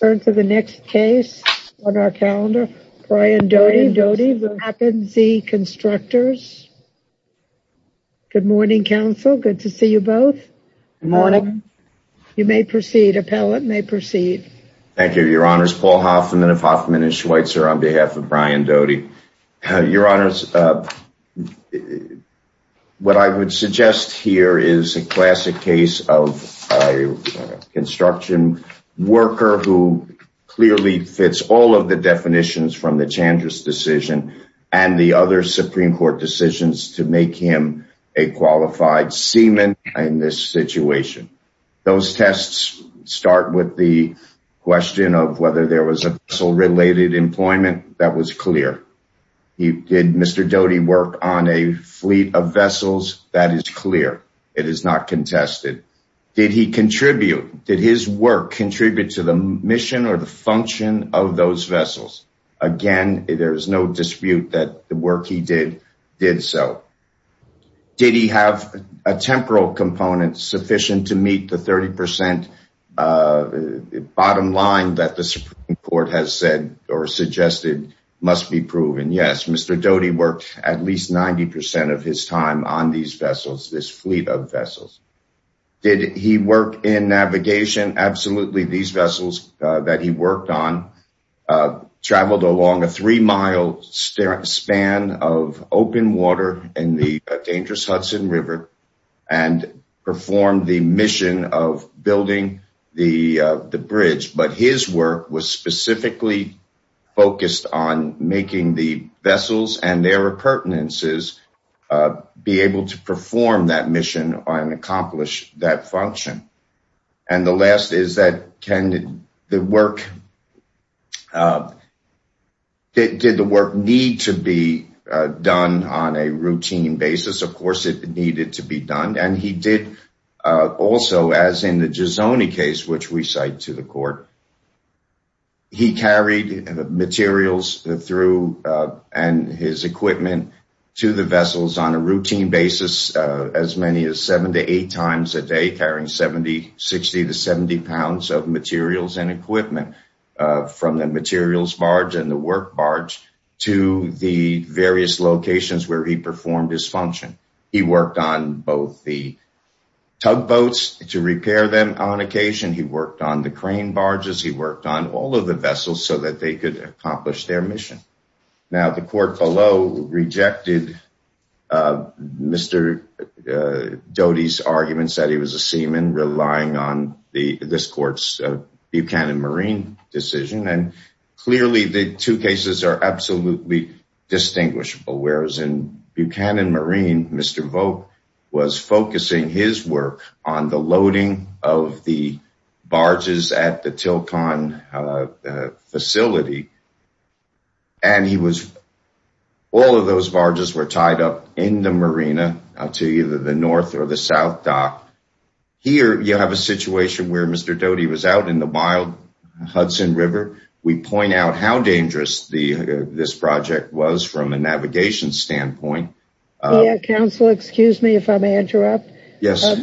Turn to the next case on our calendar. Brian Doty v. Tappan Zee Constructors. Good morning, counsel. Good to see you both. Good morning. You may proceed. Appellant may proceed. Thank you, your honors. Paul Hoffman of Hoffman & Schweitzer on behalf of Brian Doty. Your honors, what I would suggest here is a classic case of a construction worker who clearly fits all of the definitions from the Chandra's decision and the other Supreme Court decisions to make him a qualified seaman in this situation. Those tests start with the question of whether a vessel-related employment was clear. Did Mr. Doty work on a fleet of vessels? That is clear. It is not contested. Did his work contribute to the mission or the function of those vessels? Again, there is no dispute that the work he did did so. Did he have a temporal component sufficient to meet the 30% bottom line that the Supreme Court has said or suggested must be proven? Yes. Mr. Doty worked at least 90% of his time on these vessels, this fleet of vessels. Did he work in navigation? Absolutely. These vessels that he worked on traveled along a three river and performed the mission of building the bridge, but his work was specifically focused on making the vessels and their appurtenances be able to perform that mission and accomplish that function. The last is, did the work need to be done on a routine basis? Of course, it needed to be done. He carried materials and equipment to the vessels on a routine basis as many as seven to eight times a day, carrying 60 to 70 pounds of materials and equipment from the materials barge and the work barge to the various locations where he performed his function. He worked on both the tugboats to repair them on occasion. He worked on the crane barges. He worked on all of the vessels so that they could accomplish their mission. Now, the court below rejected Mr. Doty's arguments that he was a seaman, relying on the this court's Buchanan Marine decision. Clearly, the two cases are absolutely distinguishable, whereas in Buchanan Marine, Mr. Vogt was focusing his work on the loading of the barges at the Tilcon facility. All of those barges were tied up in the marina to either the north or the south dock. Here, you have a situation where Mr. Doty was out in the from a navigation standpoint. Counsel, excuse me if I may interrupt. Yes.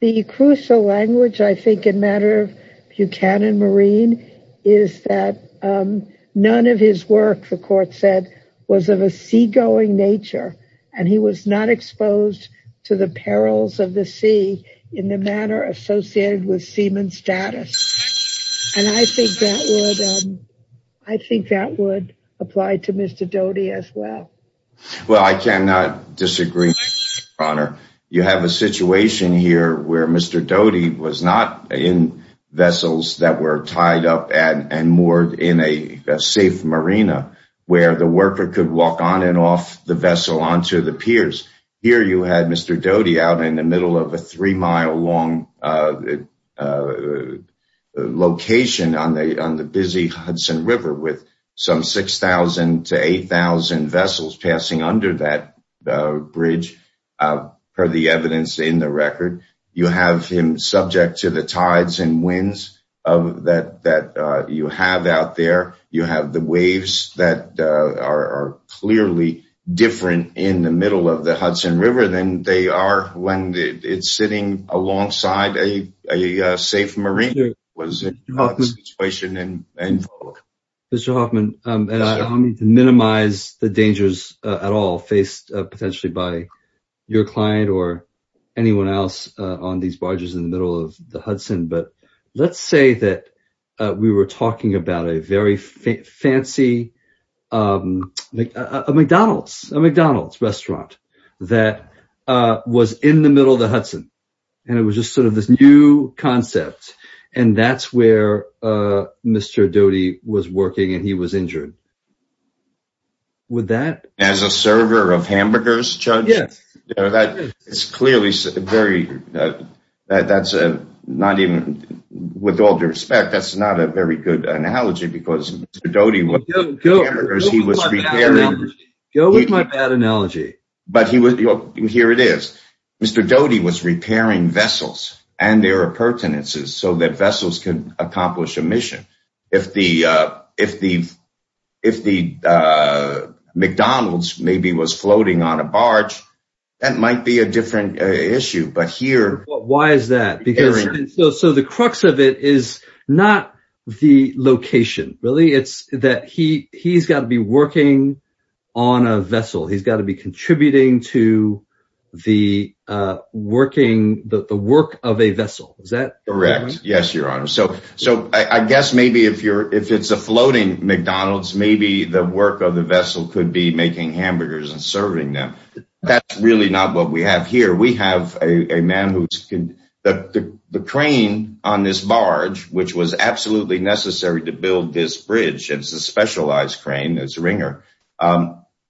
The crucial language, I think, in matter of Buchanan Marine is that none of his work, the court said, was of a seagoing nature. He was not exposed to the perils of the sea in the manner associated with seaman status. I think that would apply to Mr. Doty as well. Well, I cannot disagree, Your Honor. You have a situation here where Mr. Doty was not in vessels that were tied up and moored in a safe marina where the worker could walk on and off the vessel onto the piers. Here, you had Mr. Doty out in the middle of a three-mile long location on the busy Hudson River with some 6,000 to 8,000 vessels passing under that bridge, per the evidence in the record. You have him subject to the tides and winds that you have out there. You have the waves that are clearly different in the middle of the Hudson River than they are when it's sitting alongside a safe marina. Mr. Hoffman, and I don't mean to minimize the dangers at all faced potentially by your client or anyone else on these barges in the middle of the Hudson, but let's say that we were talking about a very fancy McDonald's restaurant that was in the middle of the Hudson, and it was just sort of this new concept, and that's where Mr. Doty was working and he was injured. Would that… As a server of hamburgers, Judge? Yes. It's clearly very… With all due respect, that's not a very good analogy because Mr. Doty… Go with my bad analogy. Here it is. Mr. Doty was repairing vessels and their appurtenances so that vessels can accomplish a mission. If the McDonald's maybe was floating on a barge, that might be a different issue, but here… Why is that? The crux of it is not the location, really. It's that he's got to be working on a vessel. He's got to be contributing to the work of a vessel. Is that correct? Yes, Your Honor. I guess maybe if it's a floating McDonald's, maybe the work of the vessel could be making hamburgers and serving them. That's really not what we have here. We have a man who's… The crane on this barge, which was absolutely necessary to build this bridge, it's a specialized crane, it's a ringer,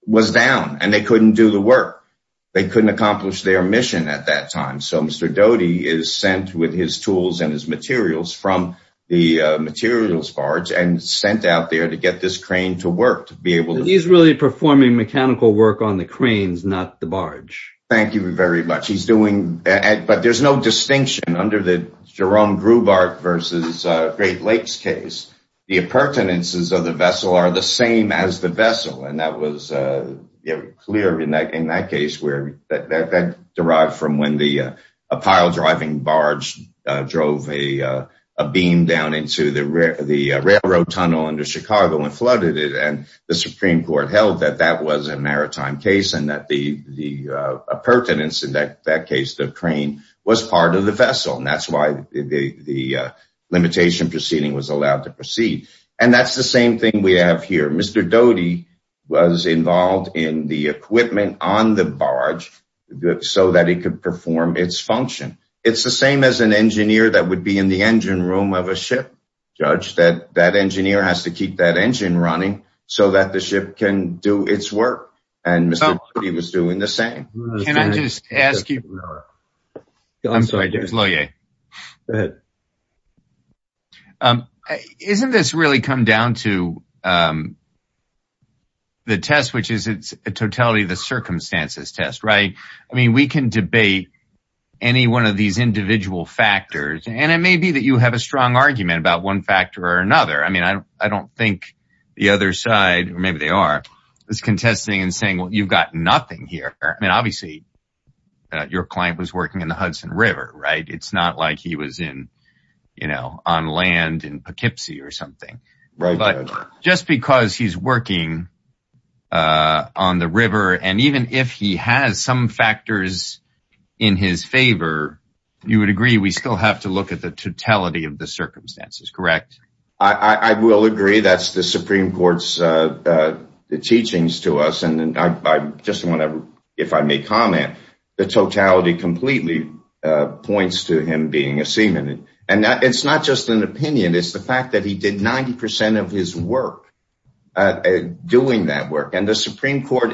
was down and they couldn't do the work. They couldn't accomplish their mission at that time. Mr. Doty is sent with his tools and his materials from the materials barge and sent out there to get this crane to work to be able to… He's really performing mechanical work on the cranes, not the barge. Thank you very much. He's doing… But there's no distinction under the Jerome Grubart versus Great Lakes case. The appurtenances of the vessel are the same as the vessel. And that was clear in that case where that derived from when the pile-driving barge drove a beam down into the railroad tunnel under Chicago and flooded it. And the Supreme Court held that that was a maritime case and that the appurtenance in that case, the crane, was part of the vessel. And that's why the limitation proceeding was allowed to proceed. And that's the same thing we have here. Mr. Doty was involved in the equipment on the barge so that it could perform its function. It's the same as an engineer that would be in the engine room of a ship, Judge, that that engineer has to keep that engine running so that the ship can do its work. And Mr. Doty was doing the same. Can I just ask you… I'm sorry, Judge Lohier. Go ahead. Isn't this really come down to the test, which is a totality of the circumstances test, right? I mean, we can debate any one of these individual factors, and it may be that you have a strong argument about one factor or another. I mean, I don't think the other side, or maybe they are, is contesting and saying, well, you've got nothing here. I mean, obviously, your client was working in the Hudson River, right? It's not like he was in, you know, on land in Poughkeepsie or something. Right. But just because he's working on the river, and even if he has some factors in his favor, you would agree we still have to look at the totality of the circumstances, correct? I will agree. That's the Supreme Court's teachings to us. And I just want to, if I may comment, the totality completely points to him being a seaman. And it's not just an opinion. It's the fact that he did 90 percent of his work doing that work. And the Supreme Court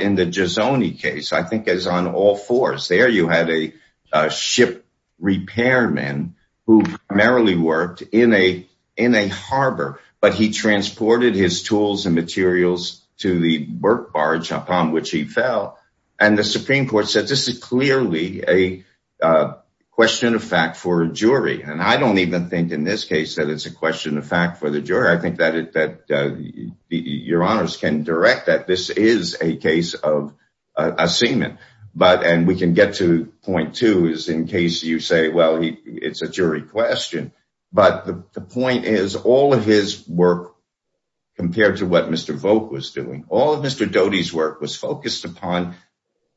in the harbor, but he transported his tools and materials to the birch barge upon which he fell. And the Supreme Court said this is clearly a question of fact for a jury. And I don't even think in this case that it's a question of fact for the jury. I think that your honors can direct that this is a case of a seaman. But and we can get to point two is in case you say, well, it's a jury question. But the point is all of his work compared to what Mr. Volk was doing, all of Mr. Doty's work was focused upon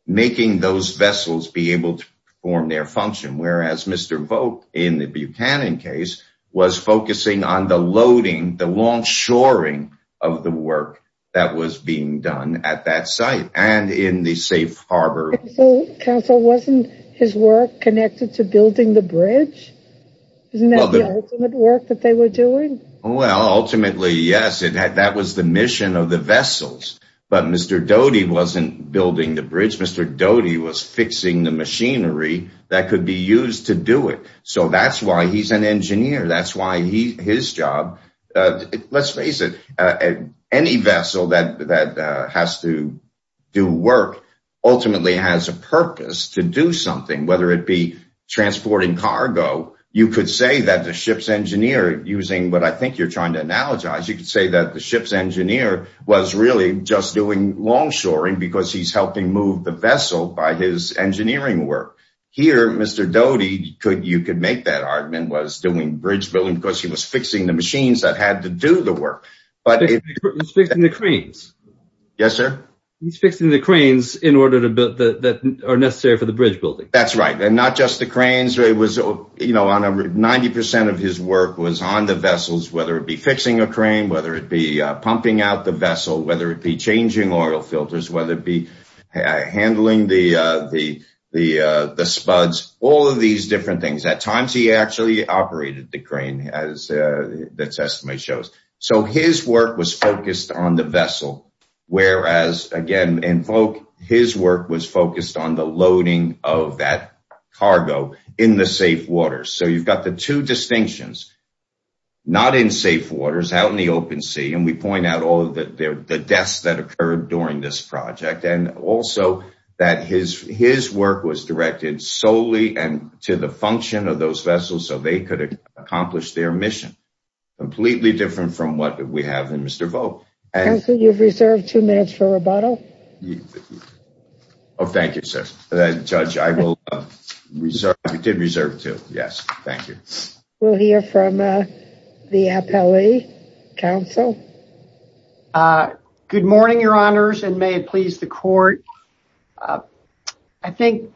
making those vessels be able to perform their function. Whereas Mr. Volk in the Buchanan case was focusing on the loading, the long shoring of the work that was being done at that site and in the safe harbor. Counsel, wasn't his work connected to building the bridge? Isn't that the ultimate work that they were doing? Well, ultimately, yes, that was the mission of the vessels. But Mr. Doty wasn't building the bridge. Mr. Doty was fixing the machinery that could be used to do it. So that's why he's an engineer. That's why his job, let's face it, any vessel that has to do work ultimately has a purpose to do something, whether it be transporting cargo. You could say that the ship's engineer using what I think you're trying to analogize, you could say that the ship's engineer was really just doing long shoring because he's helping move the vessel by his doing bridge building because he was fixing the machines that had to do the work. He's fixing the cranes. Yes, sir. He's fixing the cranes that are necessary for the bridge building. That's right. And not just the cranes. 90 percent of his work was on the vessels, whether it be fixing a crane, whether it be pumping out the vessel, whether it be changing oil filters, whether it be handling the spuds, all of these different things. At times, he actually operated the crane, as the testimony shows. So his work was focused on the vessel, whereas, again, his work was focused on the loading of that cargo in the safe waters. So you've got the two distinctions, not in safe waters, out in the open sea. And we point out all of the deaths that occurred during this project and also that his work was directed solely to the function of those vessels so they could accomplish their mission. Completely different from what we have in Mr. Vogt. Counsel, you've reserved two minutes for rebuttal. Oh, thank you, sir. Judge, I did reserve two. Yes. Thank you. We'll hear from the appellee. Counsel. Good morning, Your Honors, and may it please the court. I think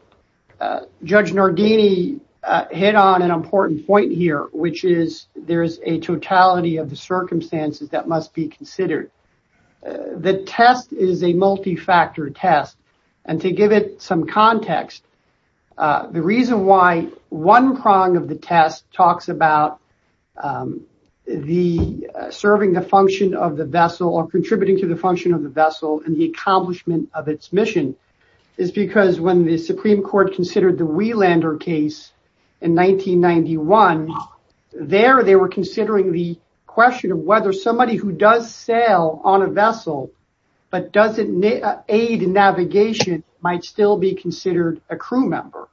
Judge Nardini hit on an important point here, which is there is a totality of the circumstances that must be considered. The test is a multi-factor test. And to give it some context, the reason why one prong of the test talks about the serving the function of the vessel or contributing to the function of the vessel and the accomplishment of its mission is because when the Supreme Court considered the Wielander case in 1991, there they were considering the question of whether somebody who does sail on a vessel but doesn't aid in navigation might still be considered a crew member.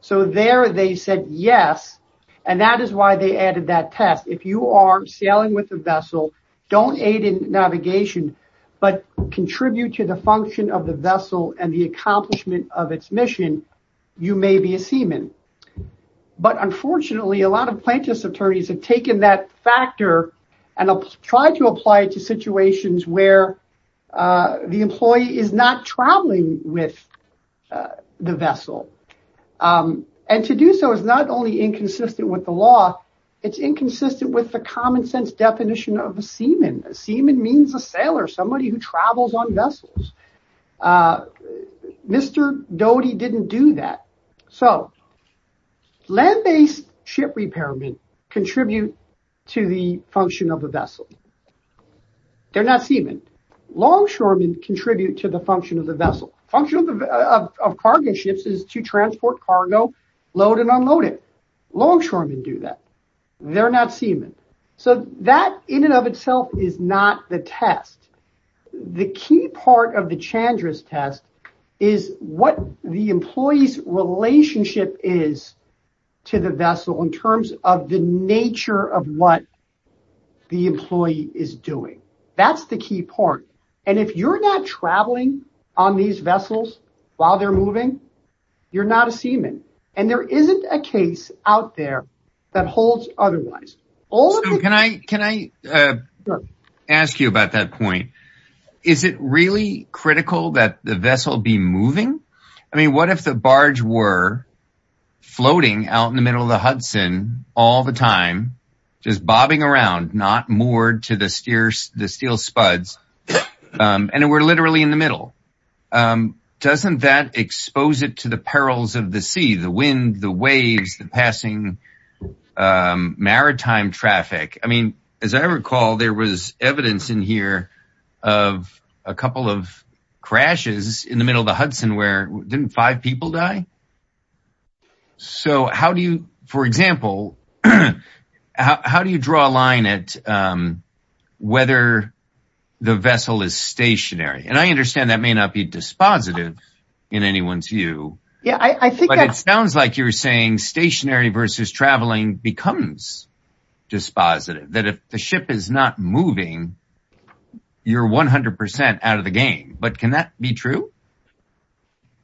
So there they said yes, and that is why they added that test. If you are sailing with a vessel, don't aid in navigation, but contribute to the function of the vessel and the accomplishment of its mission, you may be a seaman. But unfortunately, a lot of plaintiffs' attorneys have taken that factor and tried to apply it to situations where the employee is not traveling with the vessel. And to do so is not only inconsistent with the law, it's inconsistent with the common sense definition of a seaman. A seaman means a sailor, somebody who travels on vessels. Mr. Doty didn't do that. So land-based ship repairmen contribute to the function of the vessel. They're not seamen. Longshoremen contribute to the function of the vessel. The function of cargo ships is to transport cargo, load and unload it. Longshoremen do that. They're not seamen. So that in and of itself is not the test. The key part of the Chandra's test is what the employee's relationship is to the vessel in terms of the nature of what the employee is doing. That's the key part. And if you're not traveling on these vessels while they're moving, you're not a seaman. And there isn't a case out there that holds otherwise. Can I ask you about that point? Is it really critical that the vessel be moving? I mean, what if the barge were in the middle of the Hudson all the time, just bobbing around, not moored to the steel spuds, and we're literally in the middle? Doesn't that expose it to the perils of the sea, the wind, the waves, the passing maritime traffic? I mean, as I recall, there was evidence in here of a couple of crashes in the middle of the Hudson where didn't five people die? So how do you, for example, how do you draw a line at whether the vessel is stationary? And I understand that may not be dispositive in anyone's view. Yeah, I think it sounds like you're saying stationary versus traveling becomes dispositive, that if the ship is not moving, you're 100% out of the game. But can that be true?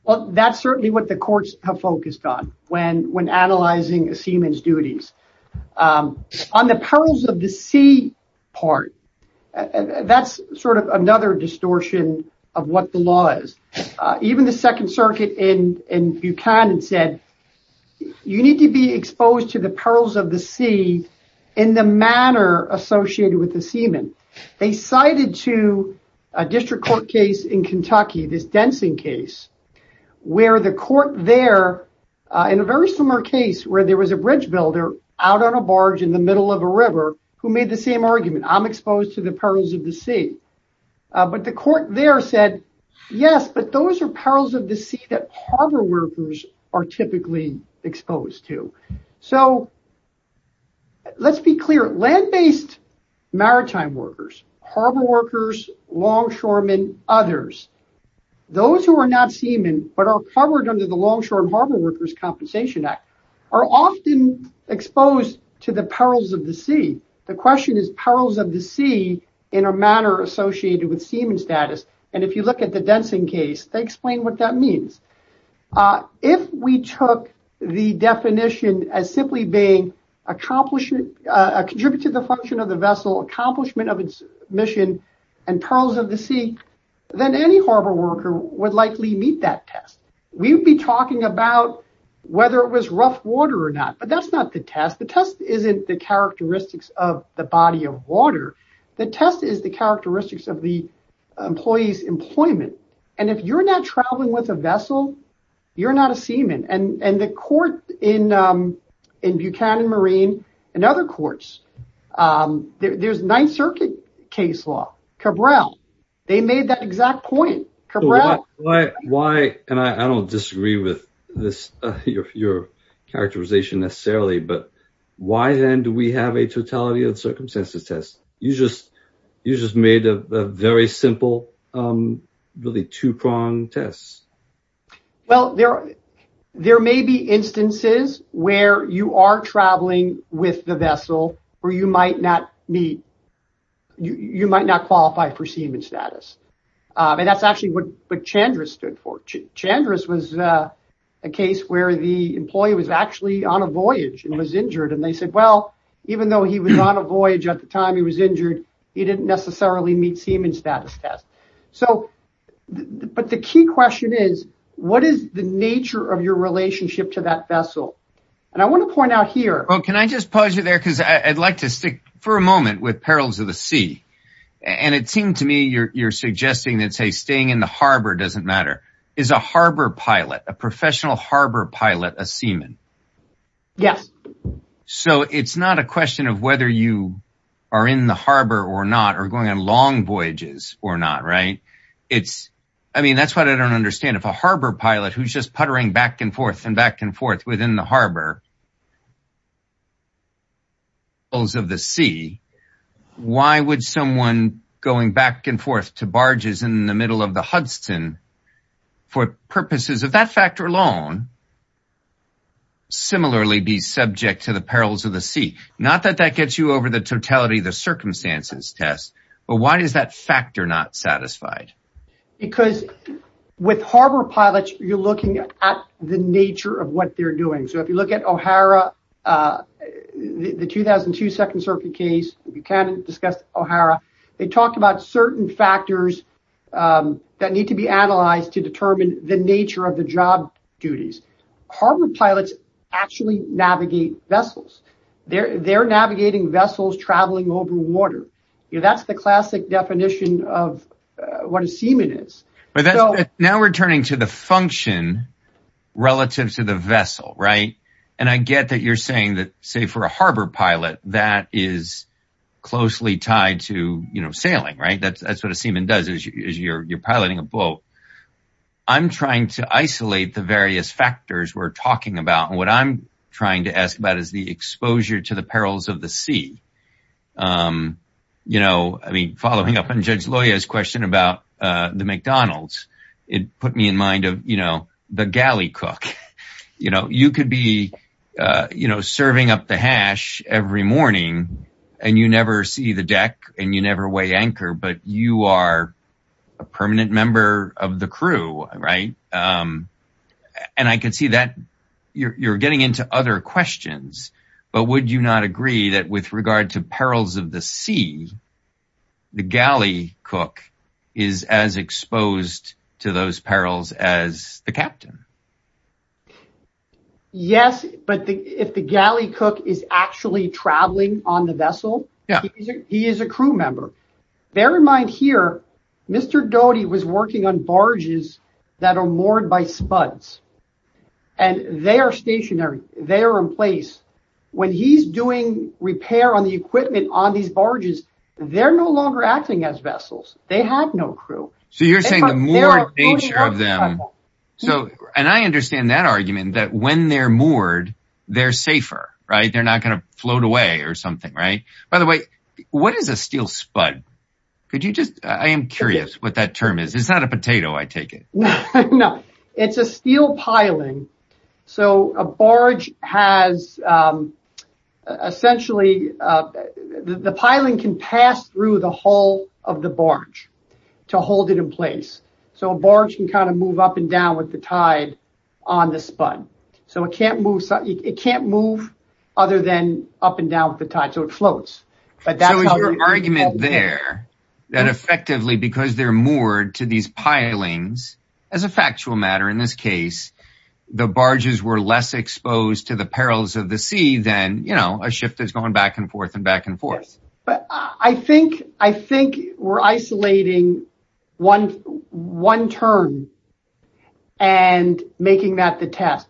Well, that's certainly what the courts have focused on when analyzing a seaman's duties. On the perils of the sea part, that's sort of another distortion of what the law is. Even the Second Circuit in Buchanan said, you need to be exposed to the perils of the sea in the manner associated with the seaman. They cited to a district court case in Kentucky, this Densing case, where the court there, in a very similar case where there was a bridge builder out on a barge in the middle of a river who made the same argument, I'm exposed to the perils of the sea. But the court there said, yes, but those are perils of the sea that harbor workers are typically exposed to. So let's be clear, land-based maritime workers, harbor workers, longshoremen, others, those who are not seaman but are covered under the Longshore and Harbor Workers Compensation Act are often exposed to the perils of the sea. The question is perils of the sea in a manner associated with seaman status. And if you look at the Densing case, they explain what that means. If we took the definition as simply being a contribution to the function of the vessel, accomplishment of its mission, and perils of the sea, then any harbor worker would likely meet that test. We'd be talking about whether it was rough water or not, but that's not the test. The test isn't the characteristics of the body of water. The test is the characteristics of the employee's employment. And if you're not traveling with a vessel, you're not a seaman. And the court in Ninth Circuit case law, Cabral, they made that exact point. Why, and I don't disagree with your characterization necessarily, but why then do we have a totality of circumstances test? You just made a very simple, really two-pronged test. Well, there may be instances where you are traveling with the vessel where you might not meet, you might not qualify for seaman status. And that's actually what Chandra stood for. Chandra was a case where the employee was actually on a voyage and was injured. And they said, well, even though he was on a voyage at the time he was injured, he didn't necessarily meet seaman status test. But the key question is, what is the nature of your relationship to that vessel? And I want to point out here. Well, can I just pause you there? Because I'd like to stick for a moment with perils of the sea. And it seemed to me you're suggesting that, say, staying in the harbor doesn't matter. Is a harbor pilot, a professional harbor pilot, a seaman? Yes. So it's not a question of whether you are in the harbor or not, or going on long voyages or not, right? I mean, that's what I don't understand. If a harbor pilot who's just puttering back and forth and back and forth within the harbor, perils of the sea, why would someone going back and forth to barges in the middle of the Hudson, for purposes of that factor alone, similarly be subject to the perils of the sea? Not that that gets you over the totality of the circumstances test, but why is that factor not satisfied? Because with harbor pilots, you're looking at the nature of what they're doing. If you look at O'Hara, the 2002 Second Circuit case, you can discuss O'Hara. They talked about certain factors that need to be analyzed to determine the nature of the job duties. Harbor pilots actually navigate vessels. They're navigating vessels traveling over water. That's the classic definition of what a seaman is. Now we're turning to the function relative to the vessel, right? And I get that you're saying that, say, for a harbor pilot, that is closely tied to sailing, right? That's what a seaman does, is you're piloting a boat. I'm trying to isolate the various factors we're talking about. And what I'm trying to ask about is the exposure to the perils of the sea. I mean, following up on Judge McDonald's, it put me in mind of, you know, the galley cook. You know, you could be, you know, serving up the hash every morning and you never see the deck and you never weigh anchor, but you are a permanent member of the crew, right? And I can see that you're getting into other questions, but would you not agree that with regard to perils of the sea, the galley cook is as exposed to those perils as the captain? Yes, but if the galley cook is actually traveling on the vessel, he is a crew member. Bear in mind here, Mr. Doty was working on barges that are moored by spuds and they are stationary. They are in place. When he's doing repair on the equipment on these barges, they're no longer acting as vessels. They have no crew. So you're saying the moored nature of them. So, and I understand that argument that when they're moored, they're safer, right? They're not going to float away or something, right? By the way, what is a steel spud? Could you just, I am curious what that term is. It's not a potato, I take it. No, it's a steel piling. So a barge has, essentially, the piling can pass through the hull of the barge to hold it in place. So a barge can kind of move up and down with the tide on the spud. So it can't move other than up and down with the tide. So it floats. But that's your argument there, that effectively, because they're moored to these pilings, as a factual matter, in this case, the barges were less exposed to the perils of the sea than, you know, a shift that's going back and forth and back and forth. But I think we're isolating one turn and making that the test.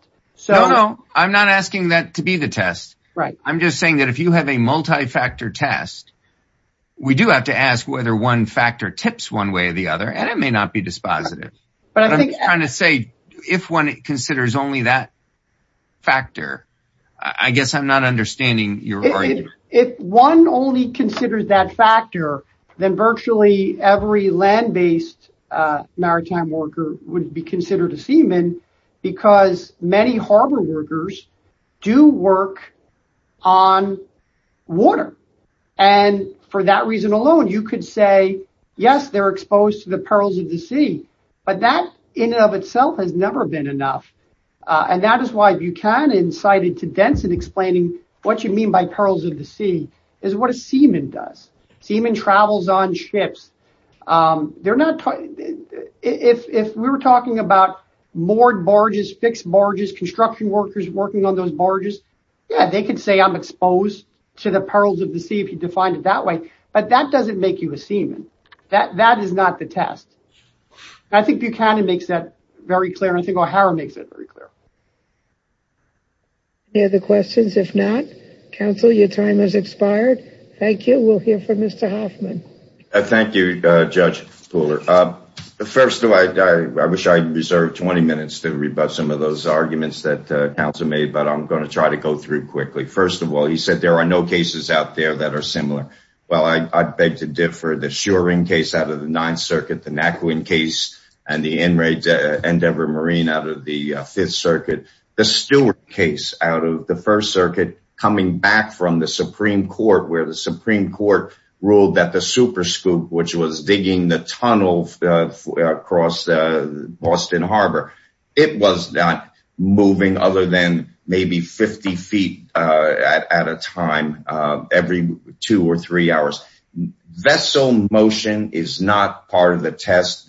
No, no, I'm not asking that to be the test. I'm just saying that if you have a multi-factor test, we do have to ask whether one factor tips one way or the other, and it may not be dispositive. But I'm trying to say, if one considers only that factor, I guess I'm not understanding your argument. If one only considers that factor, then virtually every land-based maritime worker would be And for that reason alone, you could say, yes, they're exposed to the perils of the sea, but that in and of itself has never been enough. And that is why Buchanan cited to Denson explaining what you mean by perils of the sea is what a seaman does. Seaman travels on ships. If we were talking about moored barges, fixed barges, construction workers working on those defined it that way. But that doesn't make you a seaman. That is not the test. I think Buchanan makes that very clear. I think O'Hara makes it very clear. Any other questions? If not, counsel, your time has expired. Thank you. We'll hear from Mr. Hoffman. Thank you, Judge Fuller. First of all, I wish I reserved 20 minutes to read about some of those arguments that counsel made, but I'm going to try to go through quickly. First of all, he said there are no cases out there that are similar. Well, I beg to differ. The Shuring case out of the Ninth Circuit, the Nakuin case, and the Endeavor Marine out of the Fifth Circuit. The Stewart case out of the First Circuit, coming back from the Supreme Court, where the Supreme Court ruled that the Super Scoop, which was digging the tunnel across the Boston Harbor, it was not moving other than maybe 50 feet at a time every two or three hours. Vessel motion is not part of the test.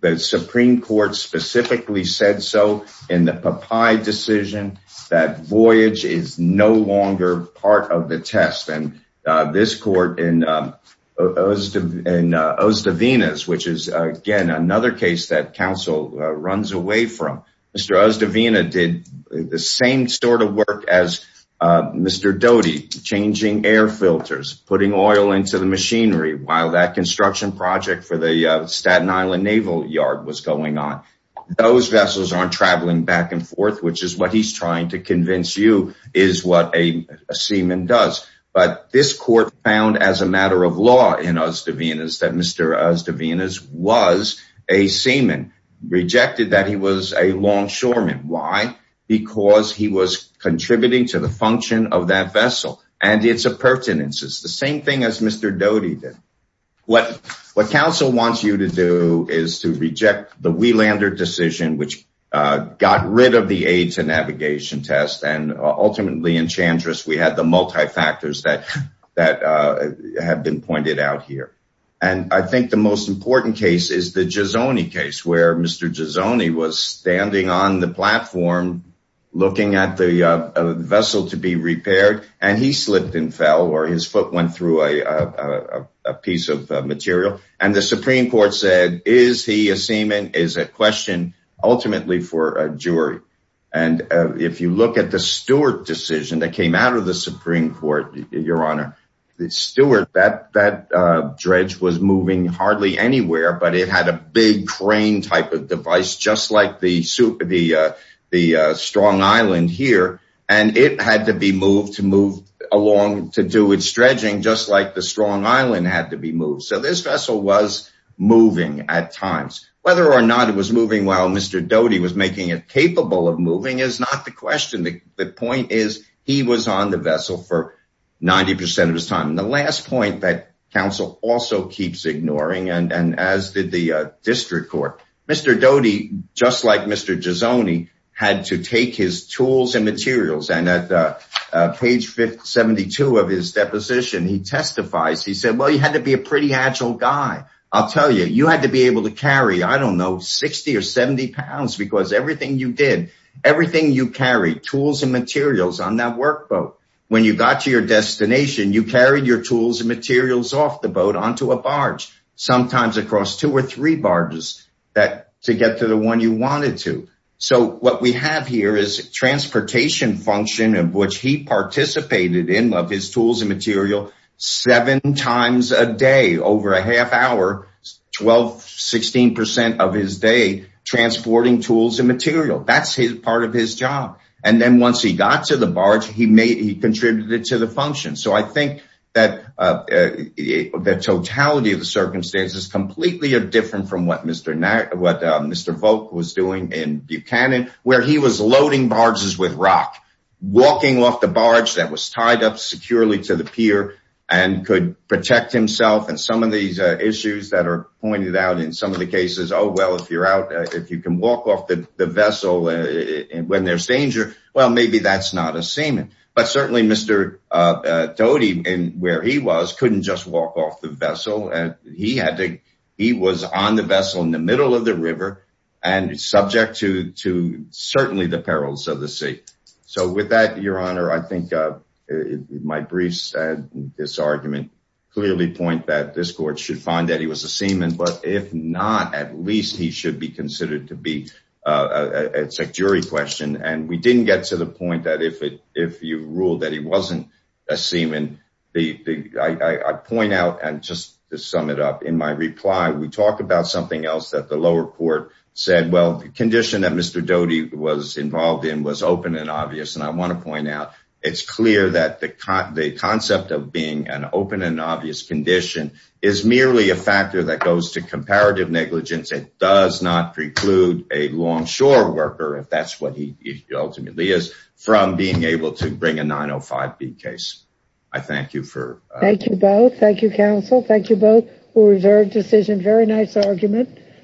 The Supreme Court specifically said so in the Papai decision that voyage is no Osdavenas, which is, again, another case that counsel runs away from. Mr. Osdavena did the same sort of work as Mr. Doty, changing air filters, putting oil into the machinery while that construction project for the Staten Island Naval Yard was going on. Those vessels aren't traveling back and forth, which is what he's trying to convince you is what a seaman does. But this found as a matter of law in Osdavenas that Mr. Osdavenas was a seaman, rejected that he was a longshoreman. Why? Because he was contributing to the function of that vessel and its appurtenances, the same thing as Mr. Doty did. What counsel wants you to do is to reject the Wielander decision, which got rid of the aid to navigation test, and ultimately in Chandra's, we had the multi-factors that have been pointed out here. And I think the most important case is the Giazzone case, where Mr. Giazzone was standing on the platform, looking at the vessel to be repaired, and he slipped and fell or his foot went through a piece of material. And the Supreme Court said, is he a seaman is a question ultimately for a jury. And if you look at the Stewart decision that came out of the Supreme Court, your honor, the Stewart that dredge was moving hardly anywhere, but it had a big crane type of device, just like the strong island here. And it had to be moved to move along to do its dredging, just like the strong island had to be moved. So this vessel was moving at times, whether or not it was moving while Mr. Doty was making it capable of moving is not the question. The point is, he was on the vessel for 90% of his time. And the last point that counsel also keeps ignoring, and as did the district court, Mr. Doty, just like Mr. Giazzone, had to take his tools and materials. And at page 72 of his deposition, he testifies, he said, well, you had to be a pretty agile guy. I'll tell you, you had to be able to carry, I don't know, 60 or 70 pounds, because everything you did, everything you carry, tools and materials on that work boat, when you got to your destination, you carry your tools and materials off the boat onto a barge, sometimes across two or three barges to get to the one you wanted to. So what we have here is transportation function of which he participated in, of his tools and material, seven times a day, over a half hour, 12, 16% of his day, transporting tools and material, that's his part of his job. And then once he got to the barge, he contributed to the function. So I think that the totality of the circumstance is completely different from what Mr. Volk was doing in Buchanan, where he was loading barges with rock, walking off the barge that was tied up securely to the pier, and could protect himself. And some of these issues that are pointed out in some of the cases, oh, well, if you're out, if you can walk off the vessel, when there's danger, well, maybe that's not a seaman. But certainly Mr. Doty, where he was, couldn't just walk off the vessel. And he had to, he was on the vessel in the middle of the river, and subject to certainly the perils of the sea. So with that, Your Honor, I think my briefs and this argument clearly point that this court should find that he was a seaman. But if not, at least he should be considered to be, it's a jury question. And we didn't get to the point that if you rule that he wasn't a seaman, I point out and just to sum it up, in my reply, we talked about something else that the lower court said, well, the condition that Mr. Doty was involved in was open and obvious. And I want to point out, it's clear that the concept of being an open and obvious condition is merely a factor that goes to comparative negligence. It does not preclude a longshore worker, if that's what he ultimately is, from being able to bring a 905B case. I thank you for... Thank you both. Thank you, counsel. Thank you both for a reserved decision. Very nice argument.